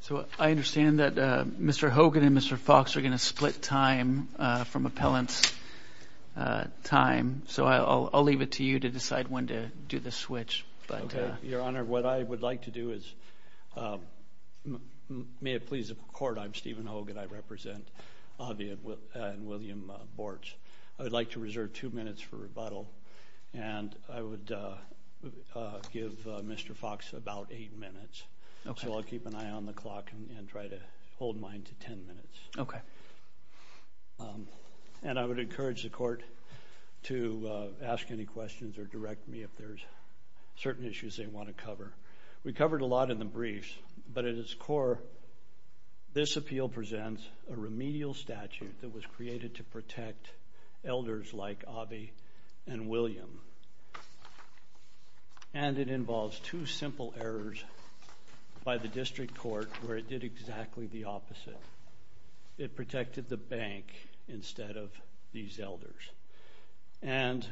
So I understand that Mr. Hogan and Mr. Fox are going to split time from appellant's time, so I'll leave it to you to decide when to do the switch. Your Honor, what I would like to do is, may it please the Court, I'm Stephen Hogan, I represent Avi and William Bortz. I would like to reserve two minutes for rebuttal, and I would give Mr. Fox about eight minutes. So I'll keep an eye on the clock and try to hold mine to ten minutes. And I would encourage the Court to ask any questions or direct me if there's certain issues they want to cover. We covered a lot in the briefs, but at its core, this appeal presents a remedial statute that was created to protect elders like Avi and William. And it involves two simple errors by the district court where it did exactly the opposite. It protected the bank instead of these elders. And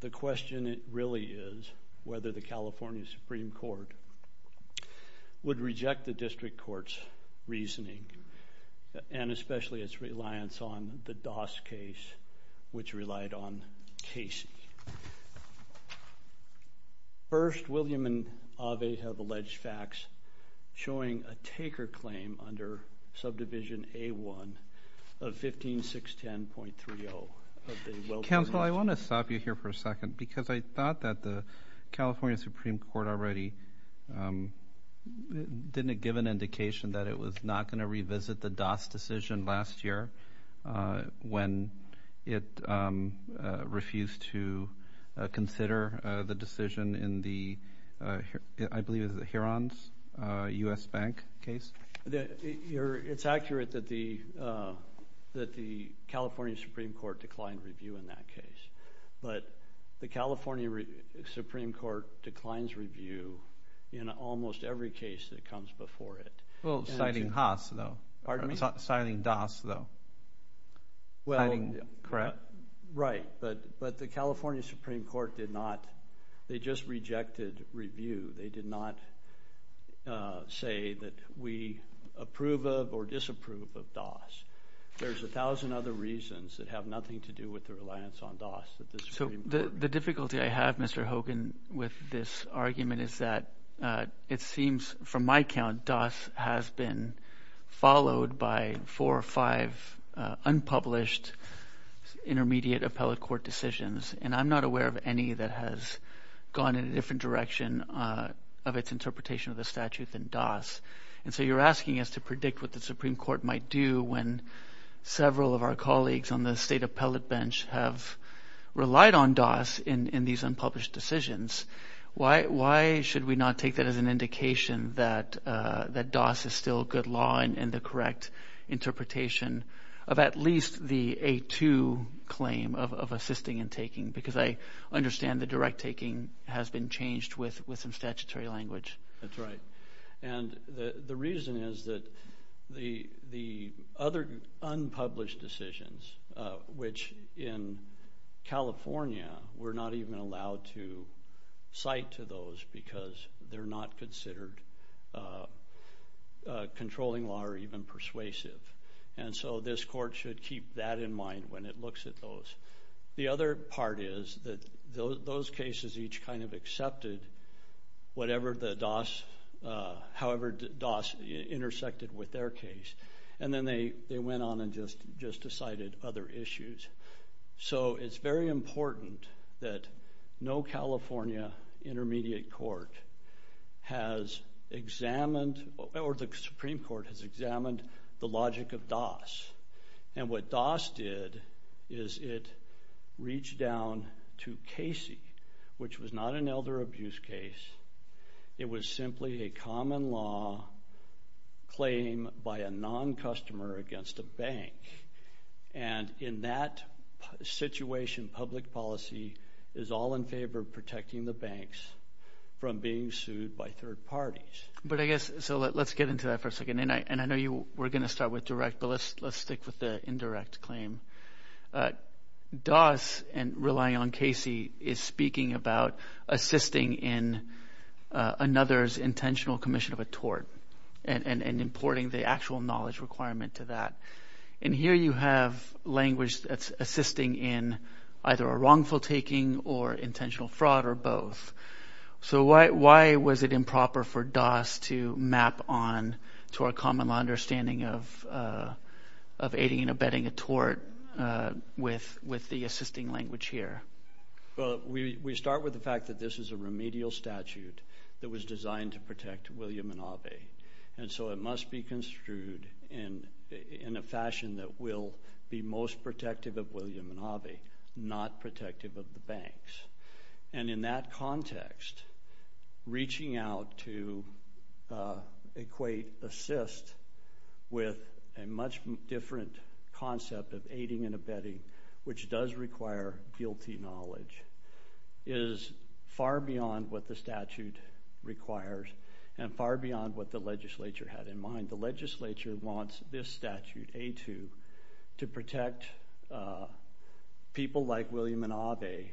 the question really is whether the California Supreme Court would reject the district court's reasoning, and especially its reliance on the Doss case, which relied on Casey. First, William and Avi have alleged facts showing a taker claim under subdivision A1 of 15610.30. Counsel, I want to stop you here for a second because I thought that the California Supreme Court already didn't give an indication that it was not going to revisit the Doss decision last year when it refused to consider the decision in the, I believe it was the Huron's U.S. Bank case? It's accurate that the California Supreme Court declined review in that case. But the California Supreme Court declines review in almost every case that comes before it. Well, citing Haas, though. Pardon me? Citing Doss, though. Well, correct? Right, but the California Supreme Court did not, they just rejected review. They did not say that we approve of or disapprove of Doss. There's a thousand other reasons that have nothing to do with their reliance on Doss. So the difficulty I have, Mr. Hogan, with this is that it seems, from my count, Doss has been followed by four or five unpublished intermediate appellate court decisions. And I'm not aware of any that has gone in a different direction of its interpretation of the statute than Doss. And so you're asking us to predict what the Supreme Court might do when several of our colleagues on the state appellate bench have relied on Doss in these cases. Should we not take that as an indication that Doss is still good law and the correct interpretation of at least the A2 claim of assisting and taking? Because I understand the direct taking has been changed with some statutory language. That's right. And the reason is that the other unpublished decisions, which in most cases, they're not considered controlling law or even persuasive. And so this court should keep that in mind when it looks at those. The other part is that those cases each kind of accepted whatever the Doss, however Doss intersected with their case. And then they went on and just decided other issues. So it's very important that no California intermediate court has examined or the Supreme Court has examined the logic of Doss. And what Doss did is it reached down to Casey, which was not an elder abuse case. It was simply a common law claim by a non-customer against a bank. And in that situation, public policy is all in favor of protecting the banks from being sued by third parties. But I guess, so let's get into that for a second. And I know you were going to start with direct, but let's stick with the indirect claim. Doss, and relying on Casey, is speaking about assisting in another's intentional commission of a tort. And importing the actual knowledge requirement to that. And here you have language that's assisting in either a wrongful taking or intentional fraud or both. So why was it improper for Doss to map on to our common understanding of aiding and abetting a tort with the assisting language here? Well, we start with the fact that this is a remedial statute that was designed to protect William and Ave. And so it must be construed in a fashion that will be most protective of William and Ave, not protective of the banks. And in that context, reaching out to equate assist with a much different concept of aiding and abetting, which does require guilty knowledge, is far beyond what the statute requires and far beyond what the legislature had in mind. The legislature wants this statute, A-2, to protect people like William and Ave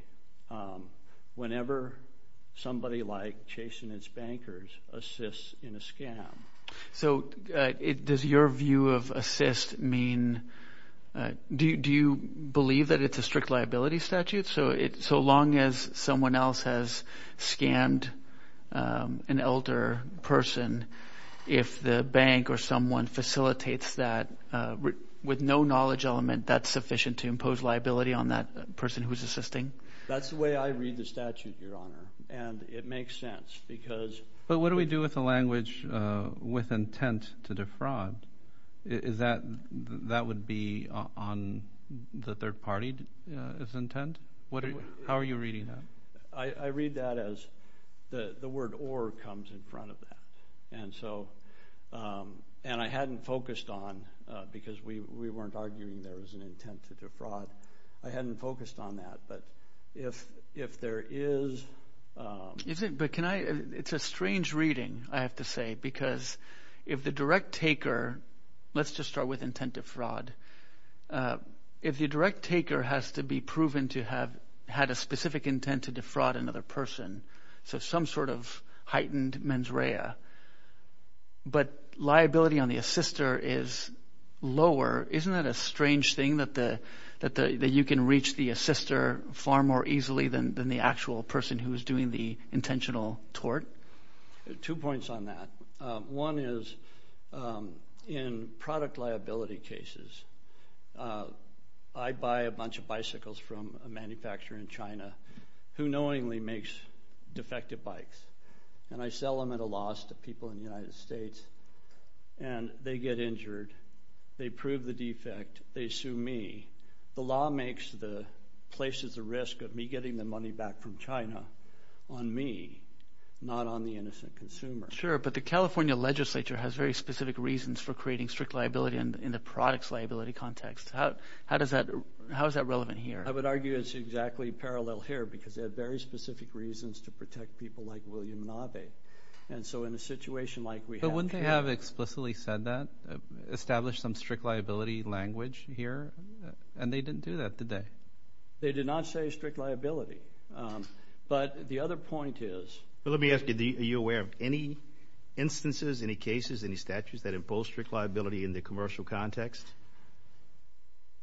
whenever somebody like chasing its bankers assists in a scam. So does your view of assist mean, do you believe that it's a strict liability statute? So long as someone else has scammed an elder person, if the bank or someone facilitates that with no knowledge element, that's sufficient to impose liability on that person who's assisting? That's the way I read the statute, Your Honor, and it makes sense because... But what do we do with the language with intent to defraud? Is that, that would be on the third party's intent? How are you reading that? I read that as the word or comes in front of that. And so, and I hadn't focused on, because we weren't arguing there was an intent to defraud. I hadn't focused on that, but if there is... But can I, it's a strange reading, I have to say, because if the direct taker, let's just start with intent to fraud. If the direct taker has to be proven to have had a specific intent to defraud another person, so some sort of heightened mens rea, but liability on the assister is lower, isn't that a strange thing that you can reach the assister far more easily than the actual person who's doing the intentional tort? Two points on that. One is in product liability cases, I buy a bunch of bicycles from a manufacturer in China who knowingly makes defective bikes, and I sell them at a loss to people in the United States, and they get injured, they prove the defect, they sue me. The law makes the, places the risk of me getting the money back from China on me, not on the innocent consumer. Sure, but the California legislature has very specific reasons for creating strict liability in the product's liability context. How does that, how is that relevant here? I would argue it's exactly parallel here, because they have very specific reasons to protect people like William Nave. And so in a situation like we have... But wouldn't they have explicitly said that, established some strict liability language here? And they didn't do that, did they? They did not say strict liability. But the other point is... Well, let me ask you, are you aware of any instances, any cases, any statutes that impose strict liability in the commercial context?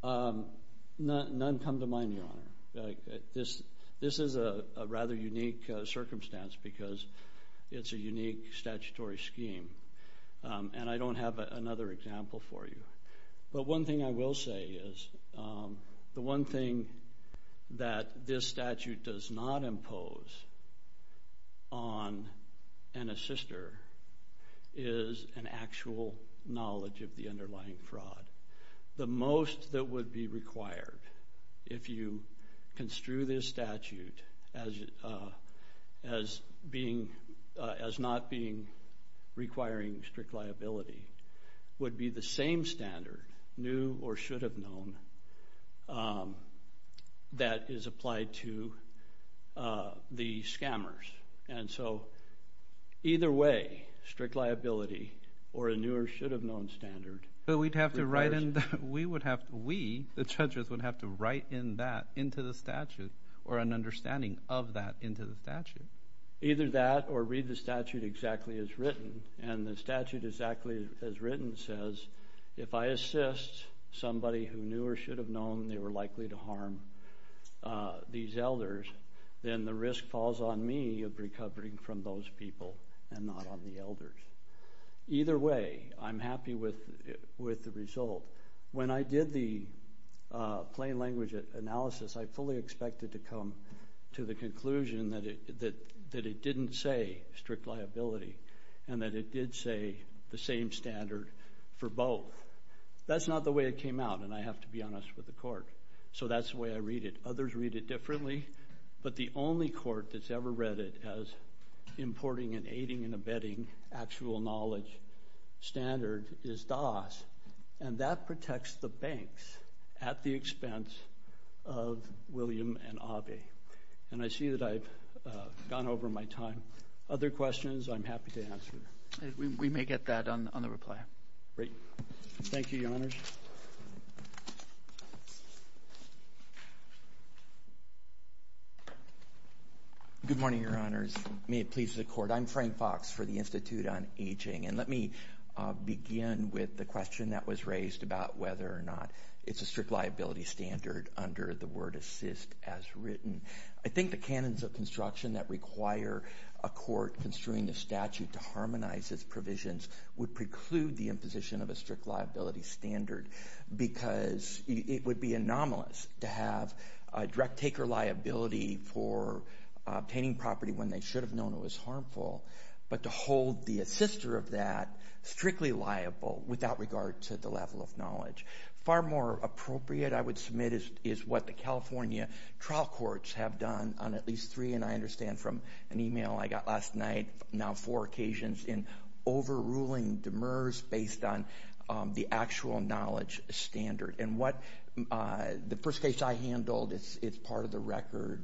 None come to mind, Your Honor. This is a rather unique circumstance, because it's a unique statutory scheme. And I don't have another example for you. But one thing I will say is, the one thing that this statute does not impose on an assister is an actual knowledge of the underlying fraud. The most that would be required, if you construe this statute as being, as not being requiring strict liability, would be the same standard, new or should have known, that is applied to the scammers. And so either way, strict liability or a new or should have known standard... But we'd have to write in, we would have to... We, the judges, would have to write in that into the statute, or an understanding of that into the statute. Either that or read the statute exactly as written. And the statute exactly as written says, if I assist somebody who knew or should have known they were likely to harm these elders, then the risk falls on me of recovering from those people, and not on the elders. Either way, I'm happy with the result. When I did the plain language analysis, I fully expected to come to the conclusion that it didn't say strict liability, and that it did say the same standard for both. That's not the way it came out, and I have to be honest with the court. So that's the way I read it. Others read it differently, but the only court that's ever read it as importing and aiding and abetting actual knowledge standard is DAS. And that protects the banks at the expense of William and Abhi. And I see that I've gone over my time. Other questions, I'm happy to answer. We may get that on the reply. Great. Thank you, your honors. Good morning, your honors. May it please the court. I'm Frank Fox for the Institute on Aging, and let me begin with the question that was raised about whether or not it's a strict liability standard under the word assist as written. I think the canons of construction that require a court construing the statute to harmonize its provisions would preclude the imposition of a strict liability standard because it would be anomalous to have a direct taker liability for obtaining property when they should have known it was harmful, but to hold the assister of that strictly liable without regard to the level of knowledge. Far more appropriate, I would submit, is what the California trial courts have done on at least three, and I understand from an email I got last night, now four occasions, in overruling demurs based on the actual knowledge standard. And what the first case I handled, it's part of the record,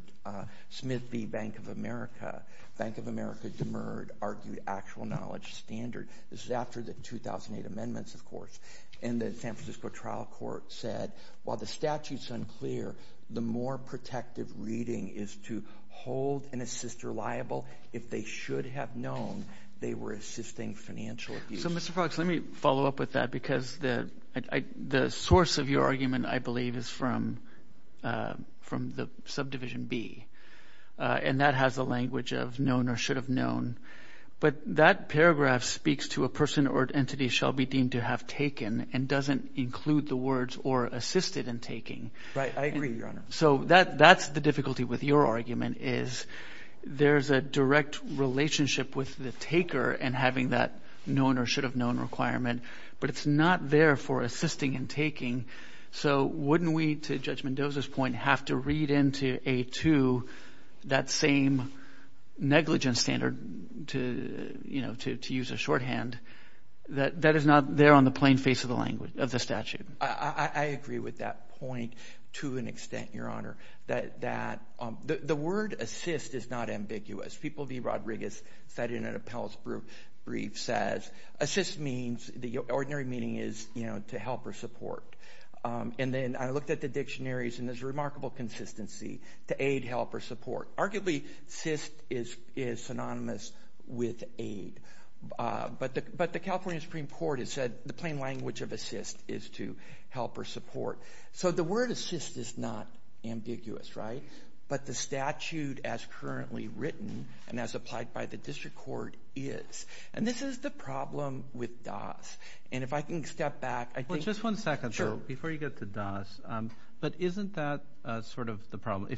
Smith v. Bank of America. Bank of America demurred, argued actual knowledge standard. This is after the 2008 amendments, of course, and the San Francisco trial court said, while the statute's unclear, the more protective reading is to hold an assister liable if they should have known they were assisting financial abuse. So, Mr. Fox, let me follow up with that because the source of your argument, I believe, is from the subdivision B, and that has a language of known or should have known. But that paragraph speaks to a person or entity shall be deemed to have taken and doesn't include the words or assisted in taking. Right. I agree, Your Honor. So that's the difficulty with your argument is there's a direct relationship with the taker and having that known or should have known requirement, but it's not there for assisting in taking. So wouldn't we, to Judge Mendoza's point, have to read into A2 that same negligence standard to use a shorthand that is not there on the plain face of the statute? I agree with that point to an extent, Your Honor, that the word assist is not ambiguous. People D. Rodriguez cited in an appellate brief says assist means the ordinary meaning is, you know, to help or support, and then I looked at the dictionaries and there's a remarkable consistency to aid, help, or support. Arguably, assist is synonymous with aid, but the California Supreme Court has said the plain language of assist is to help or support. So the word assist is not ambiguous, right? But the statute as currently written and as applied by the district court is. And this is the problem with DAS, and if I can step back, I think. Well, just one second. Sure. If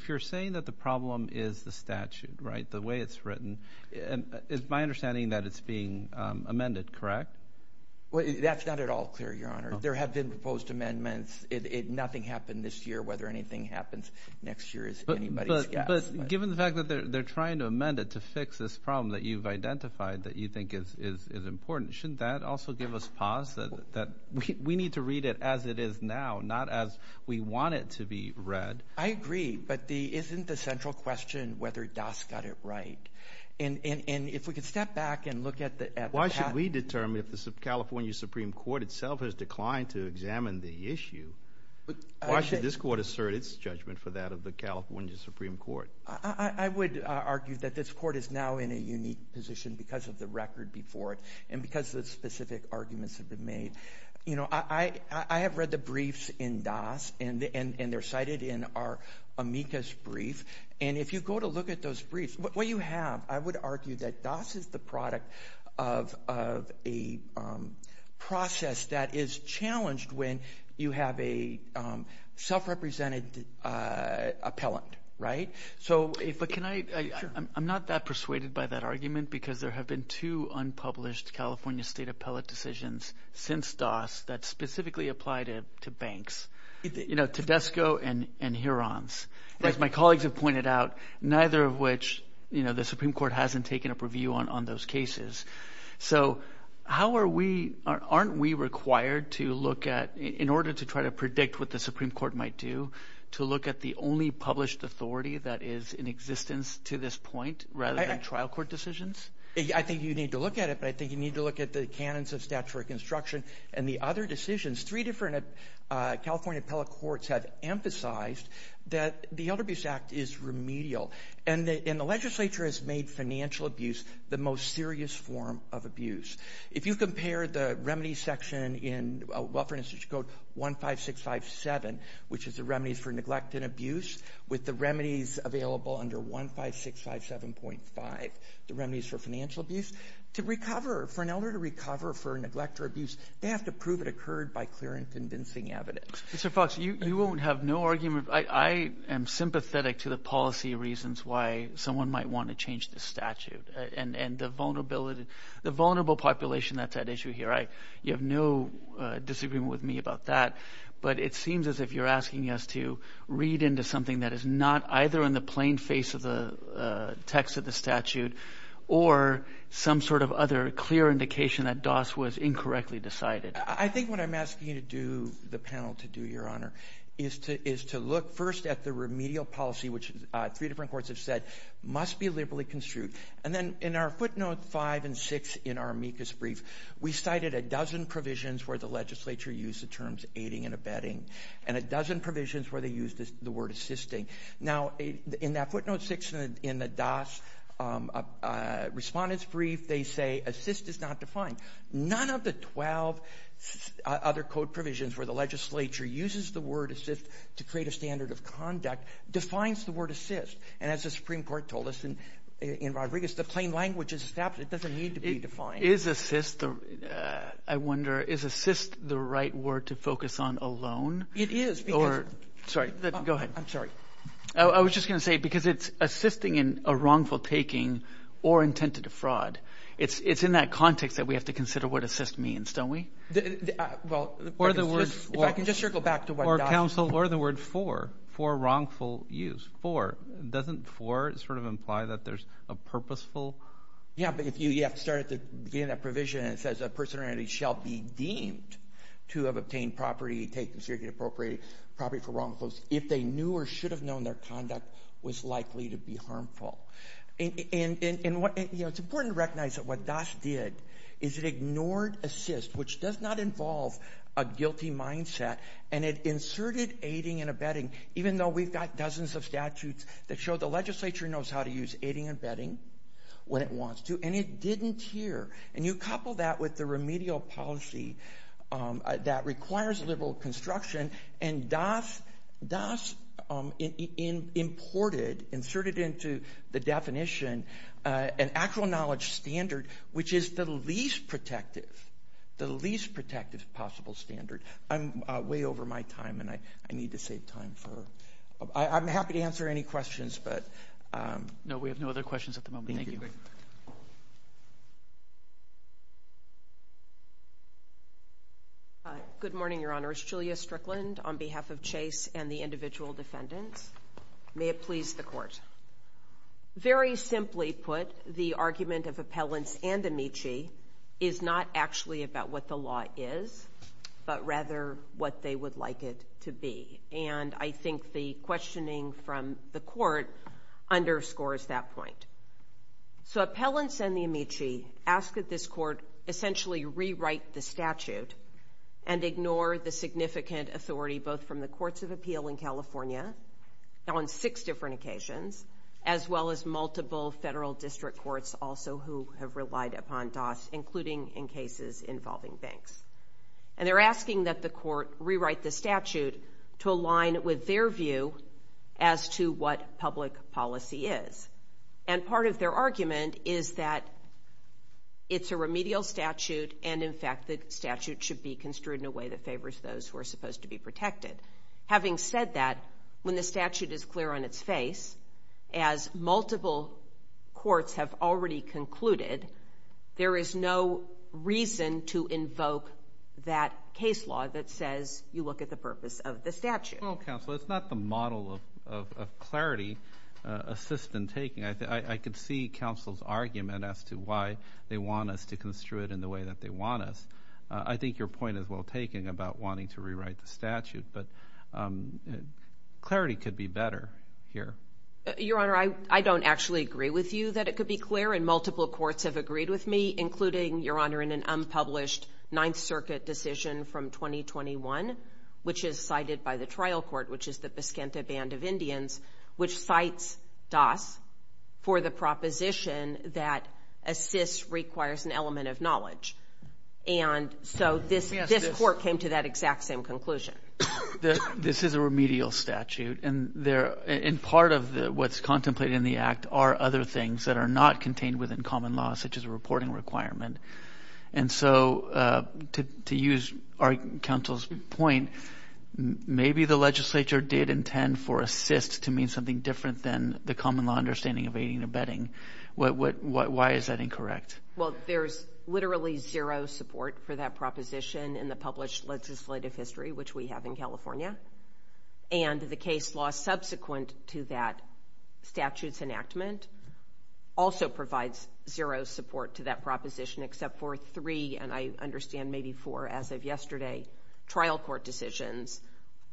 you're saying that the problem is the statute, right, the way it's written, it's my understanding that it's being amended, correct? Well, that's not at all clear, Your Honor. There have been proposed amendments. Nothing happened this year. Whether anything happens next year is anybody's guess. But given the fact that they're trying to amend it to fix this problem that you've identified that you think is important, shouldn't that also give us pause that we need to read it as it is now, not as we want it to be read? I agree, but isn't the central question whether DAS got it right? And if we could step back and look at the path. Why should we determine if the California Supreme Court itself has declined to examine the issue, why should this court assert its judgment for that of the California Supreme Court? I would argue that this court is now in a unique position because of the record before it and because the specific arguments have been made. You know, I have read the briefs in DAS, and they're cited in our amicus brief. And if you go to look at those briefs, what you have, I would argue that DAS is the product of a process that is challenged when you have a self-represented appellant, right? So if I can I, I'm not that persuaded by that argument because there have been two unpublished California state appellate decisions since DAS that specifically apply to banks, you know, Tedesco and Hurons. As my colleagues have pointed out, neither of which, you know, the Supreme Court hasn't taken up review on those cases. So how are we, aren't we required to look at, in order to try to predict what the Supreme Court might do, to look at the only published authority that is in existence to this point, rather than trial court decisions? I think you need to look at it, but I think you need to look at the canons of statutory construction and the other decisions. Three different California appellate courts have emphasized that the Elder Abuse Act is remedial. And the legislature has made financial abuse the most serious form of abuse. If you compare the remedies section in Welfare Institution Code 15657, which is the remedies for neglect and abuse, with the remedies available under 15657.5, the remedies for financial abuse, to recover, for an elder to recover for neglect or abuse, they have to prove it occurred by clear and convincing evidence. Mr. Fox, you won't have no argument, I am sympathetic to the policy reasons why someone might want to change the statute. And the vulnerability, the vulnerable population, that's at issue here. I, you have no disagreement with me about that. But it seems as if you're asking us to read into something that is not either in the plain face of the text of the statute, or some sort of other clear indication that DOS was incorrectly decided. I think what I'm asking you to do, the panel to do, Your Honor, is to look first at the remedial policy, which three different courts have said must be liberally construed. And then in our footnote five and six in our amicus brief, we cited a dozen provisions where the legislature used the terms aiding and abetting, and a dozen provisions where they used the word assisting. Now, in that footnote six in the DOS respondent's brief, they say assist is not defined. None of the 12 other code provisions where the legislature uses the word assist to create a standard of conduct defines the word assist. And as the Supreme Court told us in Rodriguez, the plain language is established, it doesn't need to be defined. Is assist, I wonder, is assist the right word to focus on alone? It is. Or, sorry, go ahead. I'm sorry. I was just going to say, because it's assisting in a wrongful taking or intent to defraud. It's in that context that we have to consider what assist means, don't we? Well, if I can just circle back to what DOS. Or counsel, or the word for, for wrongful use, for. Doesn't for sort of imply that there's a purposeful? Yeah, but if you, you have to start at the beginning of that provision, and it says a person or entity shall be deemed to have obtained property, taken or appropriated property for wrongful use if they knew or should have known their conduct was likely to be harmful. And, and, and what, you know, it's important to recognize that what DOS did is it ignored assist, which does not involve a guilty mindset, and it inserted aiding and abetting, even though we've got dozens of statutes that show the legislature knows how to use aiding and abetting when it wants to, and it didn't here. And you couple that with the remedial policy that requires liberal construction, and DOS, DOS imported, inserted into the definition, an actual knowledge standard, which is the least protective, the least protective possible standard. I'm way over my time, and I, I need to save time for, I'm happy to answer any questions, but. No, we have no other questions at the moment. Thank you. Good morning, Your Honor. It's Julia Strickland on behalf of Chase and the individual defendants. May it please the court. Very simply put, the argument of appellants and Amici is not actually about what the law is, but rather what they would like it to be. And I think the questioning from the court underscores that point. So, appellants and the Amici ask that this court essentially rewrite the statute and ignore the significant authority, both from the courts of appeal in California, on six different occasions, as well as multiple federal district courts also who have relied upon DOS, including in cases involving banks. And they're asking that the court rewrite the statute to align with their view as to what public policy is. And part of their argument is that it's a remedial statute, and in fact, the statute should be construed in a way that favors those who are supposed to be protected. Having said that, when the statute is clear on its face, as multiple courts have already concluded, there is no reason to invoke that case law that says you look at the purpose of the statute. Well, counsel, it's not the model of clarity, assist in taking. I could see counsel's argument as to why they want us to construe it in the way that they want us. I think your point is well taken about wanting to rewrite the statute, but clarity could be better here. Your Honor, I don't actually agree with you that it could be clear, and multiple courts have agreed with me, including, Your Honor, in an unpublished Ninth Circuit decision from 2021, which is cited by the trial court, which is the Piscinta Band of Indians, which cites DOS for the proposition that assist requires an element of knowledge. And so this court came to that exact same conclusion. This is a remedial statute, and part of what's contemplated in the act are other things that are not contained within common law, such as a reporting requirement. And so to use our counsel's point, maybe the legislature did intend for assist to mean something different than the common law understanding of aiding and abetting. Why is that incorrect? Well, there's literally zero support for that proposition in the published legislative history, which we have in California. And the case law subsequent to that statute's enactment also provides zero support to that proposition, except for three, and I understand maybe four, as of yesterday, trial court decisions,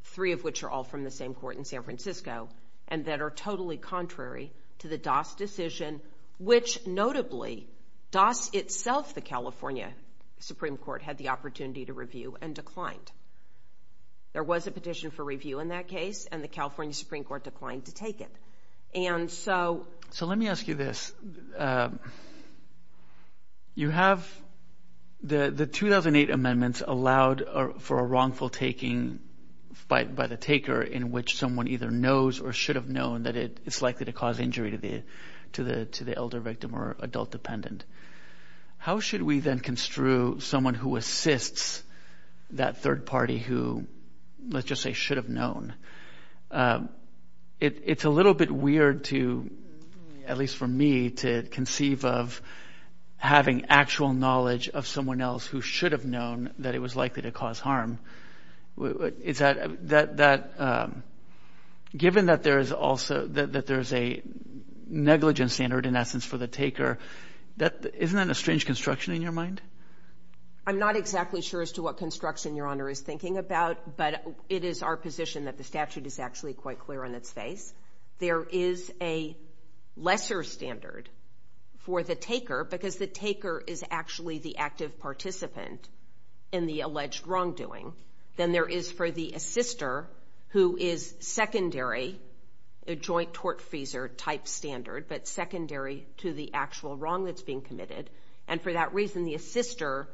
three of which are all from the same court in San Francisco, and that are totally contrary to the DOS decision, which notably, DOS itself, the California Supreme Court, had the opportunity to review and declined. There was a petition for review in that case, and the California Supreme Court declined to take it. And so... So let me ask you this. You have the 2008 amendments allowed for a wrongful taking by the taker in which someone either knows or should have known that it's likely to cause injury to the elder victim or adult dependent. How should we then construe someone who assists that third party who, let's just say, should have known? It's a little bit weird to, at least for me, to conceive of having actual knowledge of someone else who should have known that it was likely to cause harm. Is that... Given that there's a negligence standard, in essence, for the taker, isn't that a strange construction in your mind? I'm not exactly sure as to what construction Your Honor is thinking about, but it is our position that the statute is actually quite clear on its face. There is a lesser standard for the taker because the taker is actually the active participant in the alleged wrongdoing than there is for the assister who is secondary, a joint tort-freezer type standard, but secondary to the actual wrong that's being committed. And for that reason, the assister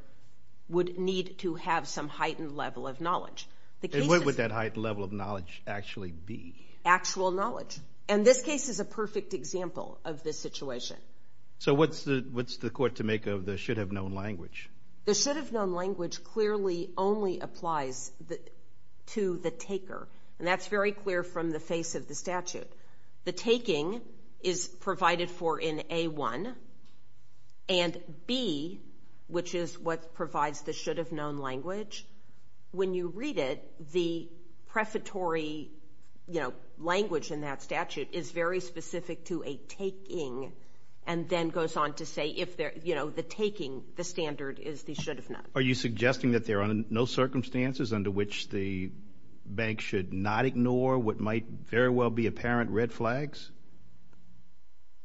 would need to have some heightened level of knowledge. And what would that heightened level of knowledge actually be? Actual knowledge. And this case is a perfect example of this situation. So what's the court to make of the should have known language? The should have known language clearly only applies to the taker. And that's very clear from the face of the statute. The taking is provided for in A1 and B, which is what provides the should have known language. When you read it, the prefatory language in that statute is very specific to a taking and then goes on to say if the taking, the standard is the should have known. Are you suggesting that there are no circumstances under which the bank should not ignore what might very well be apparent red flags?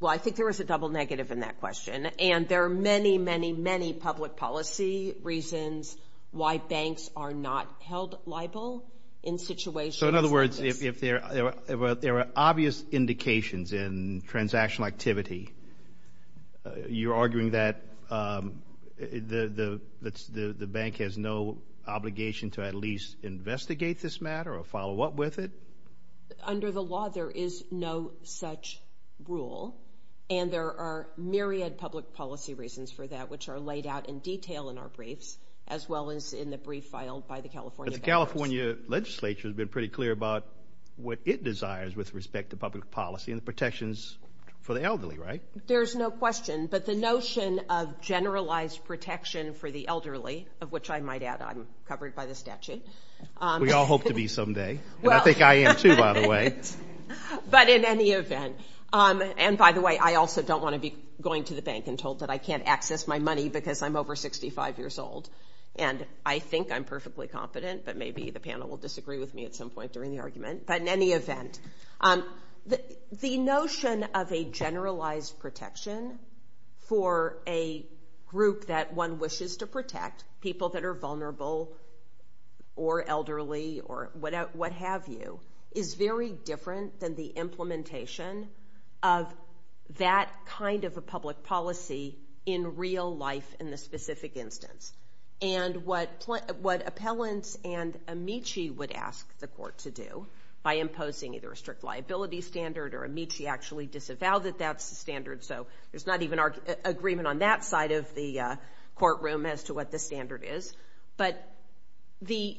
Well, I think there is a double negative in that question. And there are many, many, many public policy reasons why banks are not held liable in situations. In other words, if there are obvious indications in transactional activity, you're arguing that the bank has no obligation to at least investigate this matter or follow up with it? Under the law, there is no such rule. And there are myriad public policy reasons for that, which are laid out in detail in our briefs, as well as in the brief filed by the California. California legislature has been pretty clear about what it desires with respect to public policy and protections for the elderly, right? There's no question. But the notion of generalized protection for the elderly, of which I might add, I'm covered by the statute. We all hope to be someday. Well, I think I am too, by the way. But in any event, and by the way, I also don't want to be going to the bank and told that I can't access my money because I'm over 65 years old. And I think I'm perfectly competent. But maybe the panel will disagree with me at some point during the argument. But in any event, the notion of a generalized protection for a group that one wishes to protect, people that are vulnerable or elderly or what have you, is very different than the implementation of that kind of a public policy in real life in the specific instance. And what appellants and Amici would ask the court to do by imposing either a strict liability standard or Amici actually disavowed that that's the standard. So there's not even our agreement on that side of the courtroom as to what the standard is. But the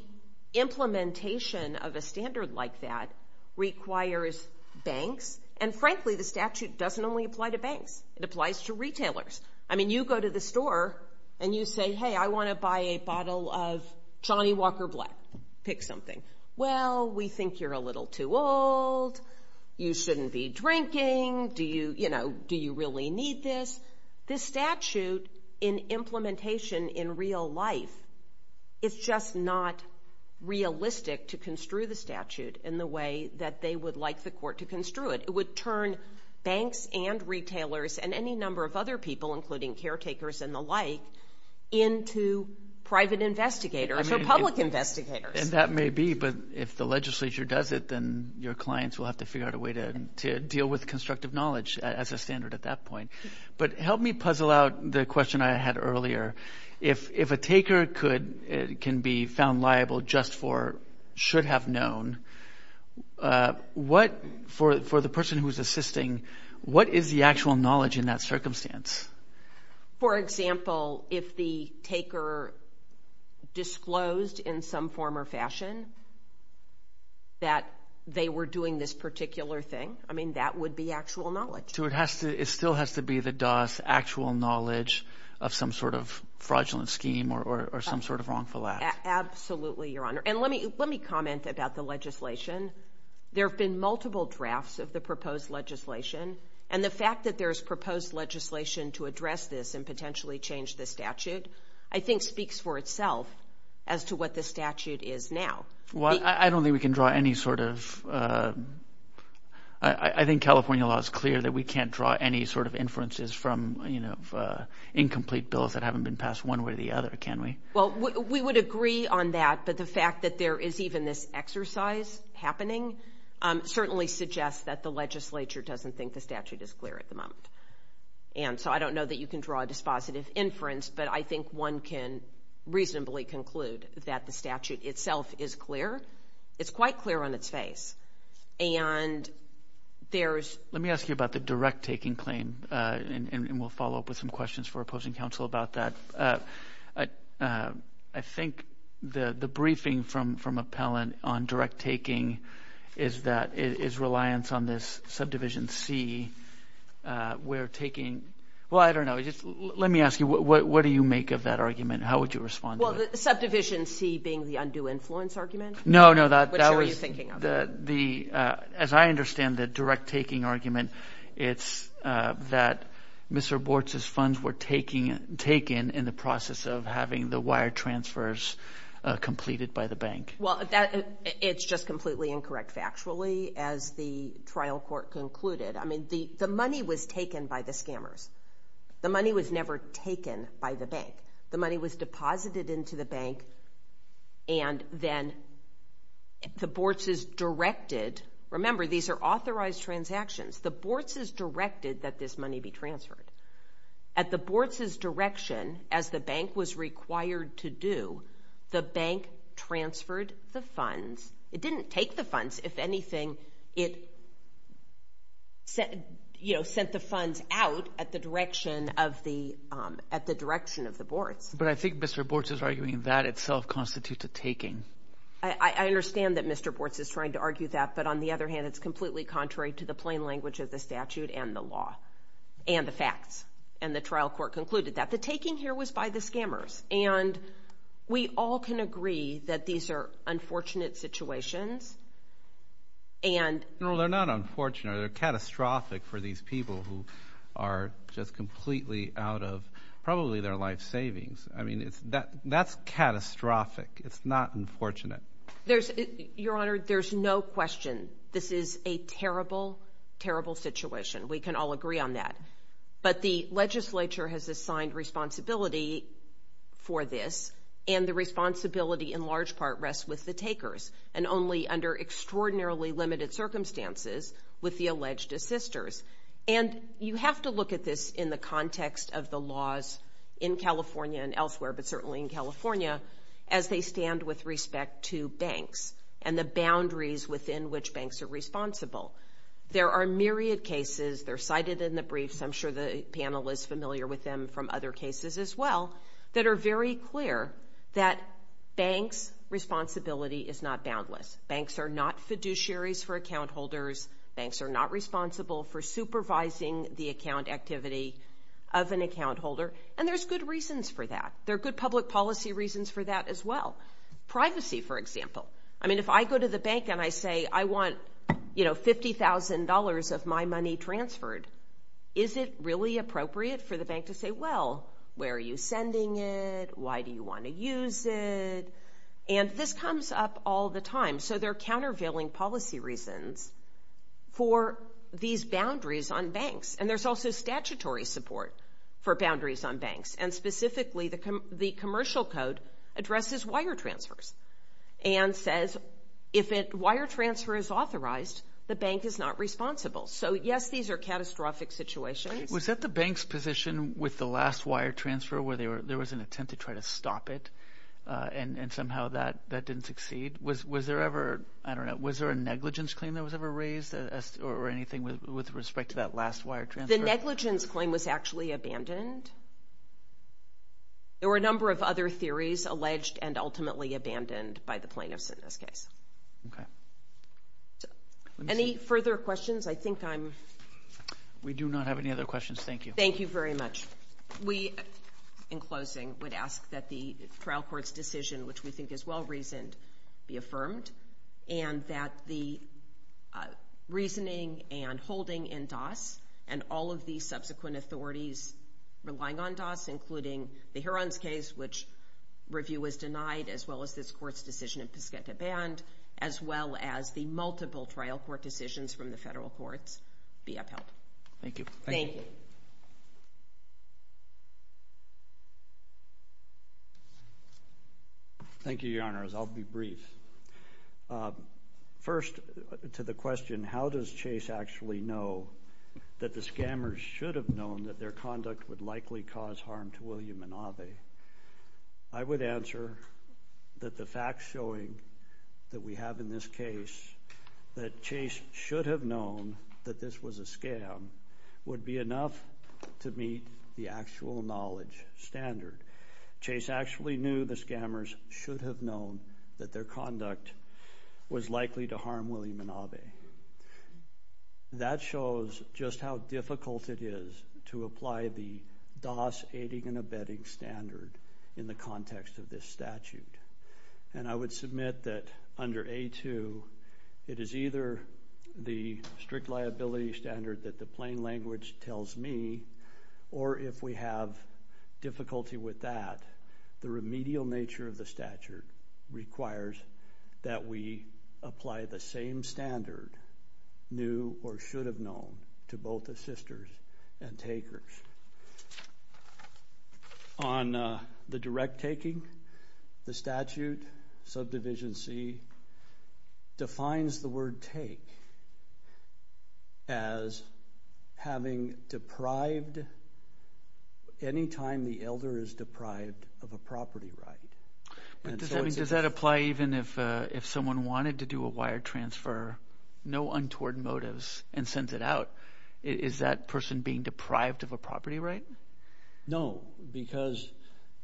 implementation of a standard like that requires banks. And frankly, the statute doesn't only apply to banks. It applies to retailers. I mean, you go to the store and you say, hey, I want to buy a bottle of Johnny Walker Black. Pick something. Well, we think you're a little too old, you shouldn't be drinking, do you really need this? This statute in implementation in real life is just not realistic to construe the statute in the way that they would like the court to construe it. It would turn banks and retailers and any number of other people, including caretakers and the like, into private investigators or public investigators. And that may be. But if the legislature does it, then your clients will have to figure out a way to deal with constructive knowledge as a standard at that point. But help me puzzle out the question I had earlier. If a taker can be found liable just for should have known, for the person who's assisting, what is the actual knowledge in that circumstance? For example, if the taker disclosed in some form or fashion that they were doing this particular thing, I mean, that would be actual knowledge. It still has to be the DOS actual knowledge of some sort of fraudulent scheme or some sort of wrongful act. Absolutely, Your Honor. And let me comment about the legislation. There have been multiple drafts of the proposed legislation. And the fact that there's proposed legislation to address this and potentially change the statute, I think speaks for itself as to what the statute is now. Well, I don't think we can draw any sort of. I think California law is clear that we can't draw any sort of inferences from, you know, incomplete bills that haven't been passed one way or the other, can we? Well, we would agree on that. But the fact that there is even this exercise happening certainly suggests that the legislature doesn't think the statute is clear at the moment. And so I don't know that you can draw a dispositive inference. But I think one can reasonably conclude that the statute itself is clear. It's quite clear on its face. And there's. Let me ask you about the direct taking claim. And we'll follow up with some questions for opposing counsel about that. I think the briefing from Appellant on direct taking is that is reliance on this subdivision C. We're taking. Well, I don't know. Let me ask you, what do you make of that argument? How would you respond? Well, the subdivision C being the undue influence argument. No, no, that was. Which are you thinking of? The as I understand the direct taking argument, it's that Mr. Bortz's funds were taking taken in the process of having the wire transfers completed by the bank. Well, it's just completely incorrect, factually, as the trial court concluded. I mean, the money was taken by the scammers. The money was never taken by the bank. The money was deposited into the bank. And then the Bortz's directed. Remember, these are authorized transactions. The Bortz's directed that this money be transferred. At the Bortz's direction, as the bank was required to do, the bank transferred the funds. It didn't take the funds. If anything, it said, you know, sent the funds out at the direction of the at the direction of the Bortz. But I think Mr. Bortz is arguing that itself constitutes a taking. I understand that Mr. Bortz is trying to argue that. But on the other hand, it's completely contrary to the plain language of the statute and the law and the facts. And the trial court concluded that the taking here was by the scammers. And we all can agree that these are unfortunate situations. And they're not unfortunate or catastrophic for these people who are just completely out of probably their life savings. I mean, it's that that's catastrophic. It's not unfortunate. There's your honor. There's no question. This is a terrible, terrible situation. We can all agree on that. But the legislature has assigned responsibility for this. And the responsibility in large part rests with the takers and only under extraordinarily limited circumstances with the alleged assisters. And you have to look at this in the context of the laws in California and elsewhere, but certainly in California, as they stand with respect to banks and the boundaries within which banks are responsible. There are myriad cases. They're cited in the briefs. I'm sure the panel is familiar with them from other cases as well that are very clear that banks' responsibility is not boundless. Banks are not fiduciaries for account holders. Banks are not responsible for supervising the account activity of an account holder. And there's good reasons for that. There are good public policy reasons for that as well. Privacy, for example. I mean, if I go to the bank and I say, I want, you know, $50,000 of my money transferred, is it really appropriate for the bank to say, well, where are you sending it? Why do you want to use it? And this comes up all the time. So there are countervailing policy reasons for these boundaries on banks. And there's also statutory support for boundaries on banks. And specifically, the commercial code addresses wire transfers. And says, if a wire transfer is authorized, the bank is not responsible. So yes, these are catastrophic situations. Was that the bank's position with the last wire transfer where there was an attempt to try to stop it and somehow that didn't succeed? Was there ever, I don't know, was there a negligence claim that was ever raised or anything with respect to that last wire transfer? The negligence claim was actually abandoned. There were a number of other theories alleged and ultimately abandoned by the plaintiffs in this case. Okay. Any further questions? I think I'm... We do not have any other questions. Thank you. Thank you very much. We, in closing, would ask that the trial court's decision, which we think is well reasoned, be affirmed. And that the reasoning and holding in DAS and all of the subsequent authorities relying on DAS, including the Heron's case, which review was denied, as well as this court's decision in Piscata Band, as well as the multiple trial court decisions from the federal courts, be upheld. Thank you. Thank you. Thank you, Your Honors. I'll be brief. First, to the question, how does Chase actually know that the scammers should have known that their conduct would likely cause harm to William and Ave? I would answer that the facts showing that we have in this case that Chase should have known that this was a scam would be enough to meet the actual knowledge standard. Chase actually knew the scammers should have known that their conduct was likely to harm William and Ave. That shows just how difficult it is to apply the DAS aiding and abetting standard in the context of this statute. And I would submit that under A2, it is either the strict liability standard that the plain language tells me, or if we have difficulty with that, the remedial nature of the statute requires that we apply the same standard, knew or should have known, to both assisters and takers. On the direct taking, the statute, subdivision C, defines the word take as having deprived any time the elder is deprived of a property right. But does that apply even if someone wanted to do a wire transfer, no untoward motives, and sends it out? Is that person being deprived of a property right? No, because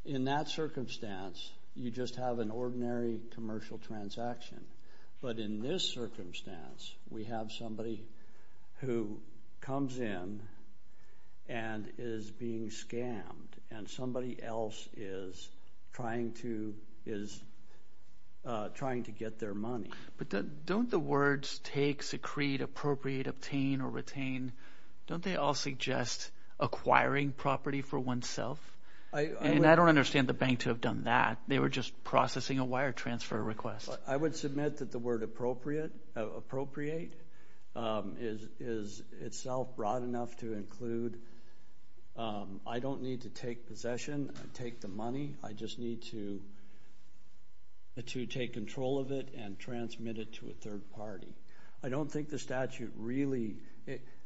in that circumstance, you just have an ordinary commercial transaction. But in this circumstance, we have somebody who comes in and is being scammed, and somebody else is trying to get their money. But don't the words take, secrete, appropriate, obtain, or retain, don't they all suggest acquiring property for oneself? And I don't understand the bank to have done that. They were just processing a wire transfer request. I would submit that the word appropriate is itself broad enough to include, I don't need to take possession, I take the money, I just need to take control of it and transmit it to a third party. I don't think the statute really,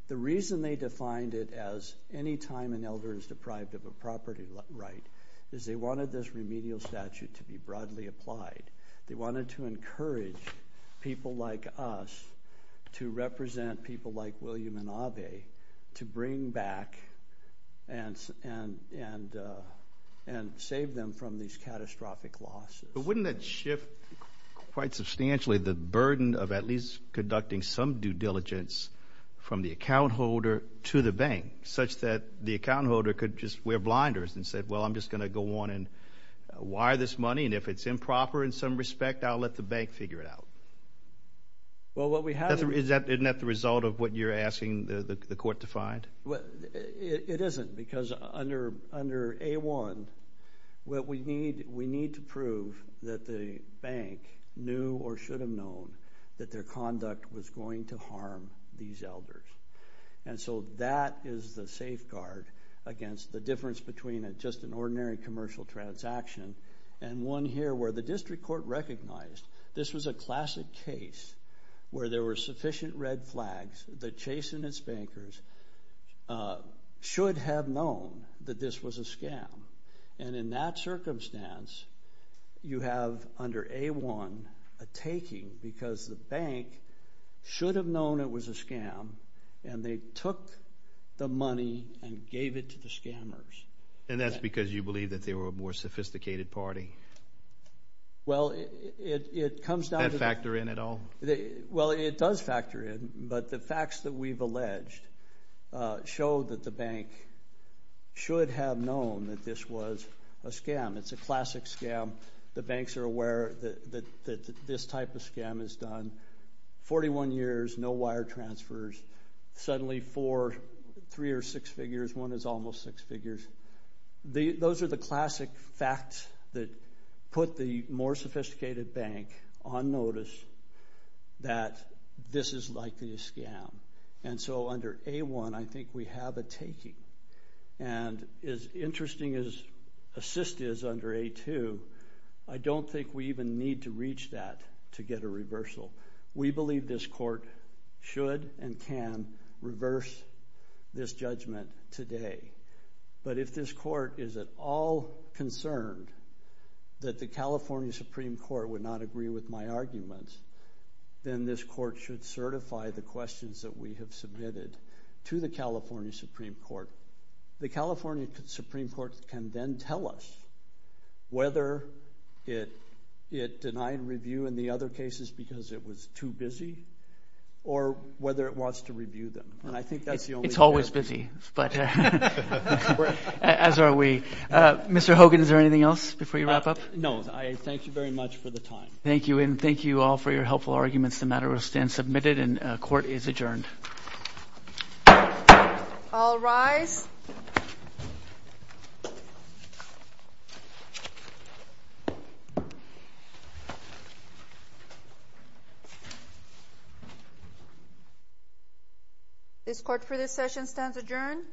the reason they defined it as any time an elder is deprived of a property right is they wanted this remedial statute to be broadly applied. They wanted to encourage people like us to represent people like William and Abe to bring back and save them from these catastrophic losses. But wouldn't that shift quite substantially the burden of at least conducting some due diligence from the account holder to the bank, such that the account holder could just wear blinders and say, well, I'm just going to go on and wire this money, and if it's improper in some respect, I'll let the bank figure it out. Well, what we have... Isn't that the result of what you're asking the court to find? It isn't, because under A-1, what we need, we need to prove that the bank knew or should have known that their conduct was going to harm these elders. And so that is the safeguard against the difference between just an ordinary commercial transaction and one here where the district court recognized this was a classic case where there were sufficient red flags that chastened its bankers, should have known that this was a scam. And in that circumstance, you have under A-1 a taking because the bank should have known it was a scam, and they took the money and gave it to the scammers. And that's because you believe that they were a more sophisticated party? Well, it comes down to... That factor in at all? Well, it does factor in, but the facts that we've alleged show that the bank should have known that this was a scam. It's a classic scam. The banks are aware that this type of scam is done, 41 years, no wire transfers, suddenly four, three or six figures, one is almost six figures. Those are the classic facts that put the more sophisticated bank on notice that this is likely a scam. And so under A-1, I think we have a taking. And as interesting as assist is under A-2, I don't think we even need to reach that to get a reversal. We believe this court should and can reverse this judgment today. But if this court is at all concerned that the California Supreme Court would not agree with my arguments, then this court should certify the questions that we have submitted to the California Supreme Court. The California Supreme Court can then tell us whether it denied review in the other cases because it was too busy, or whether it wants to review them. And I think that's the only... But as are we. Mr. Hogan, is there anything else before you wrap up? No, I thank you very much for the time. Thank you. And thank you all for your helpful arguments. The matter will stand submitted and court is adjourned. All rise. This court for this session stands adjourned.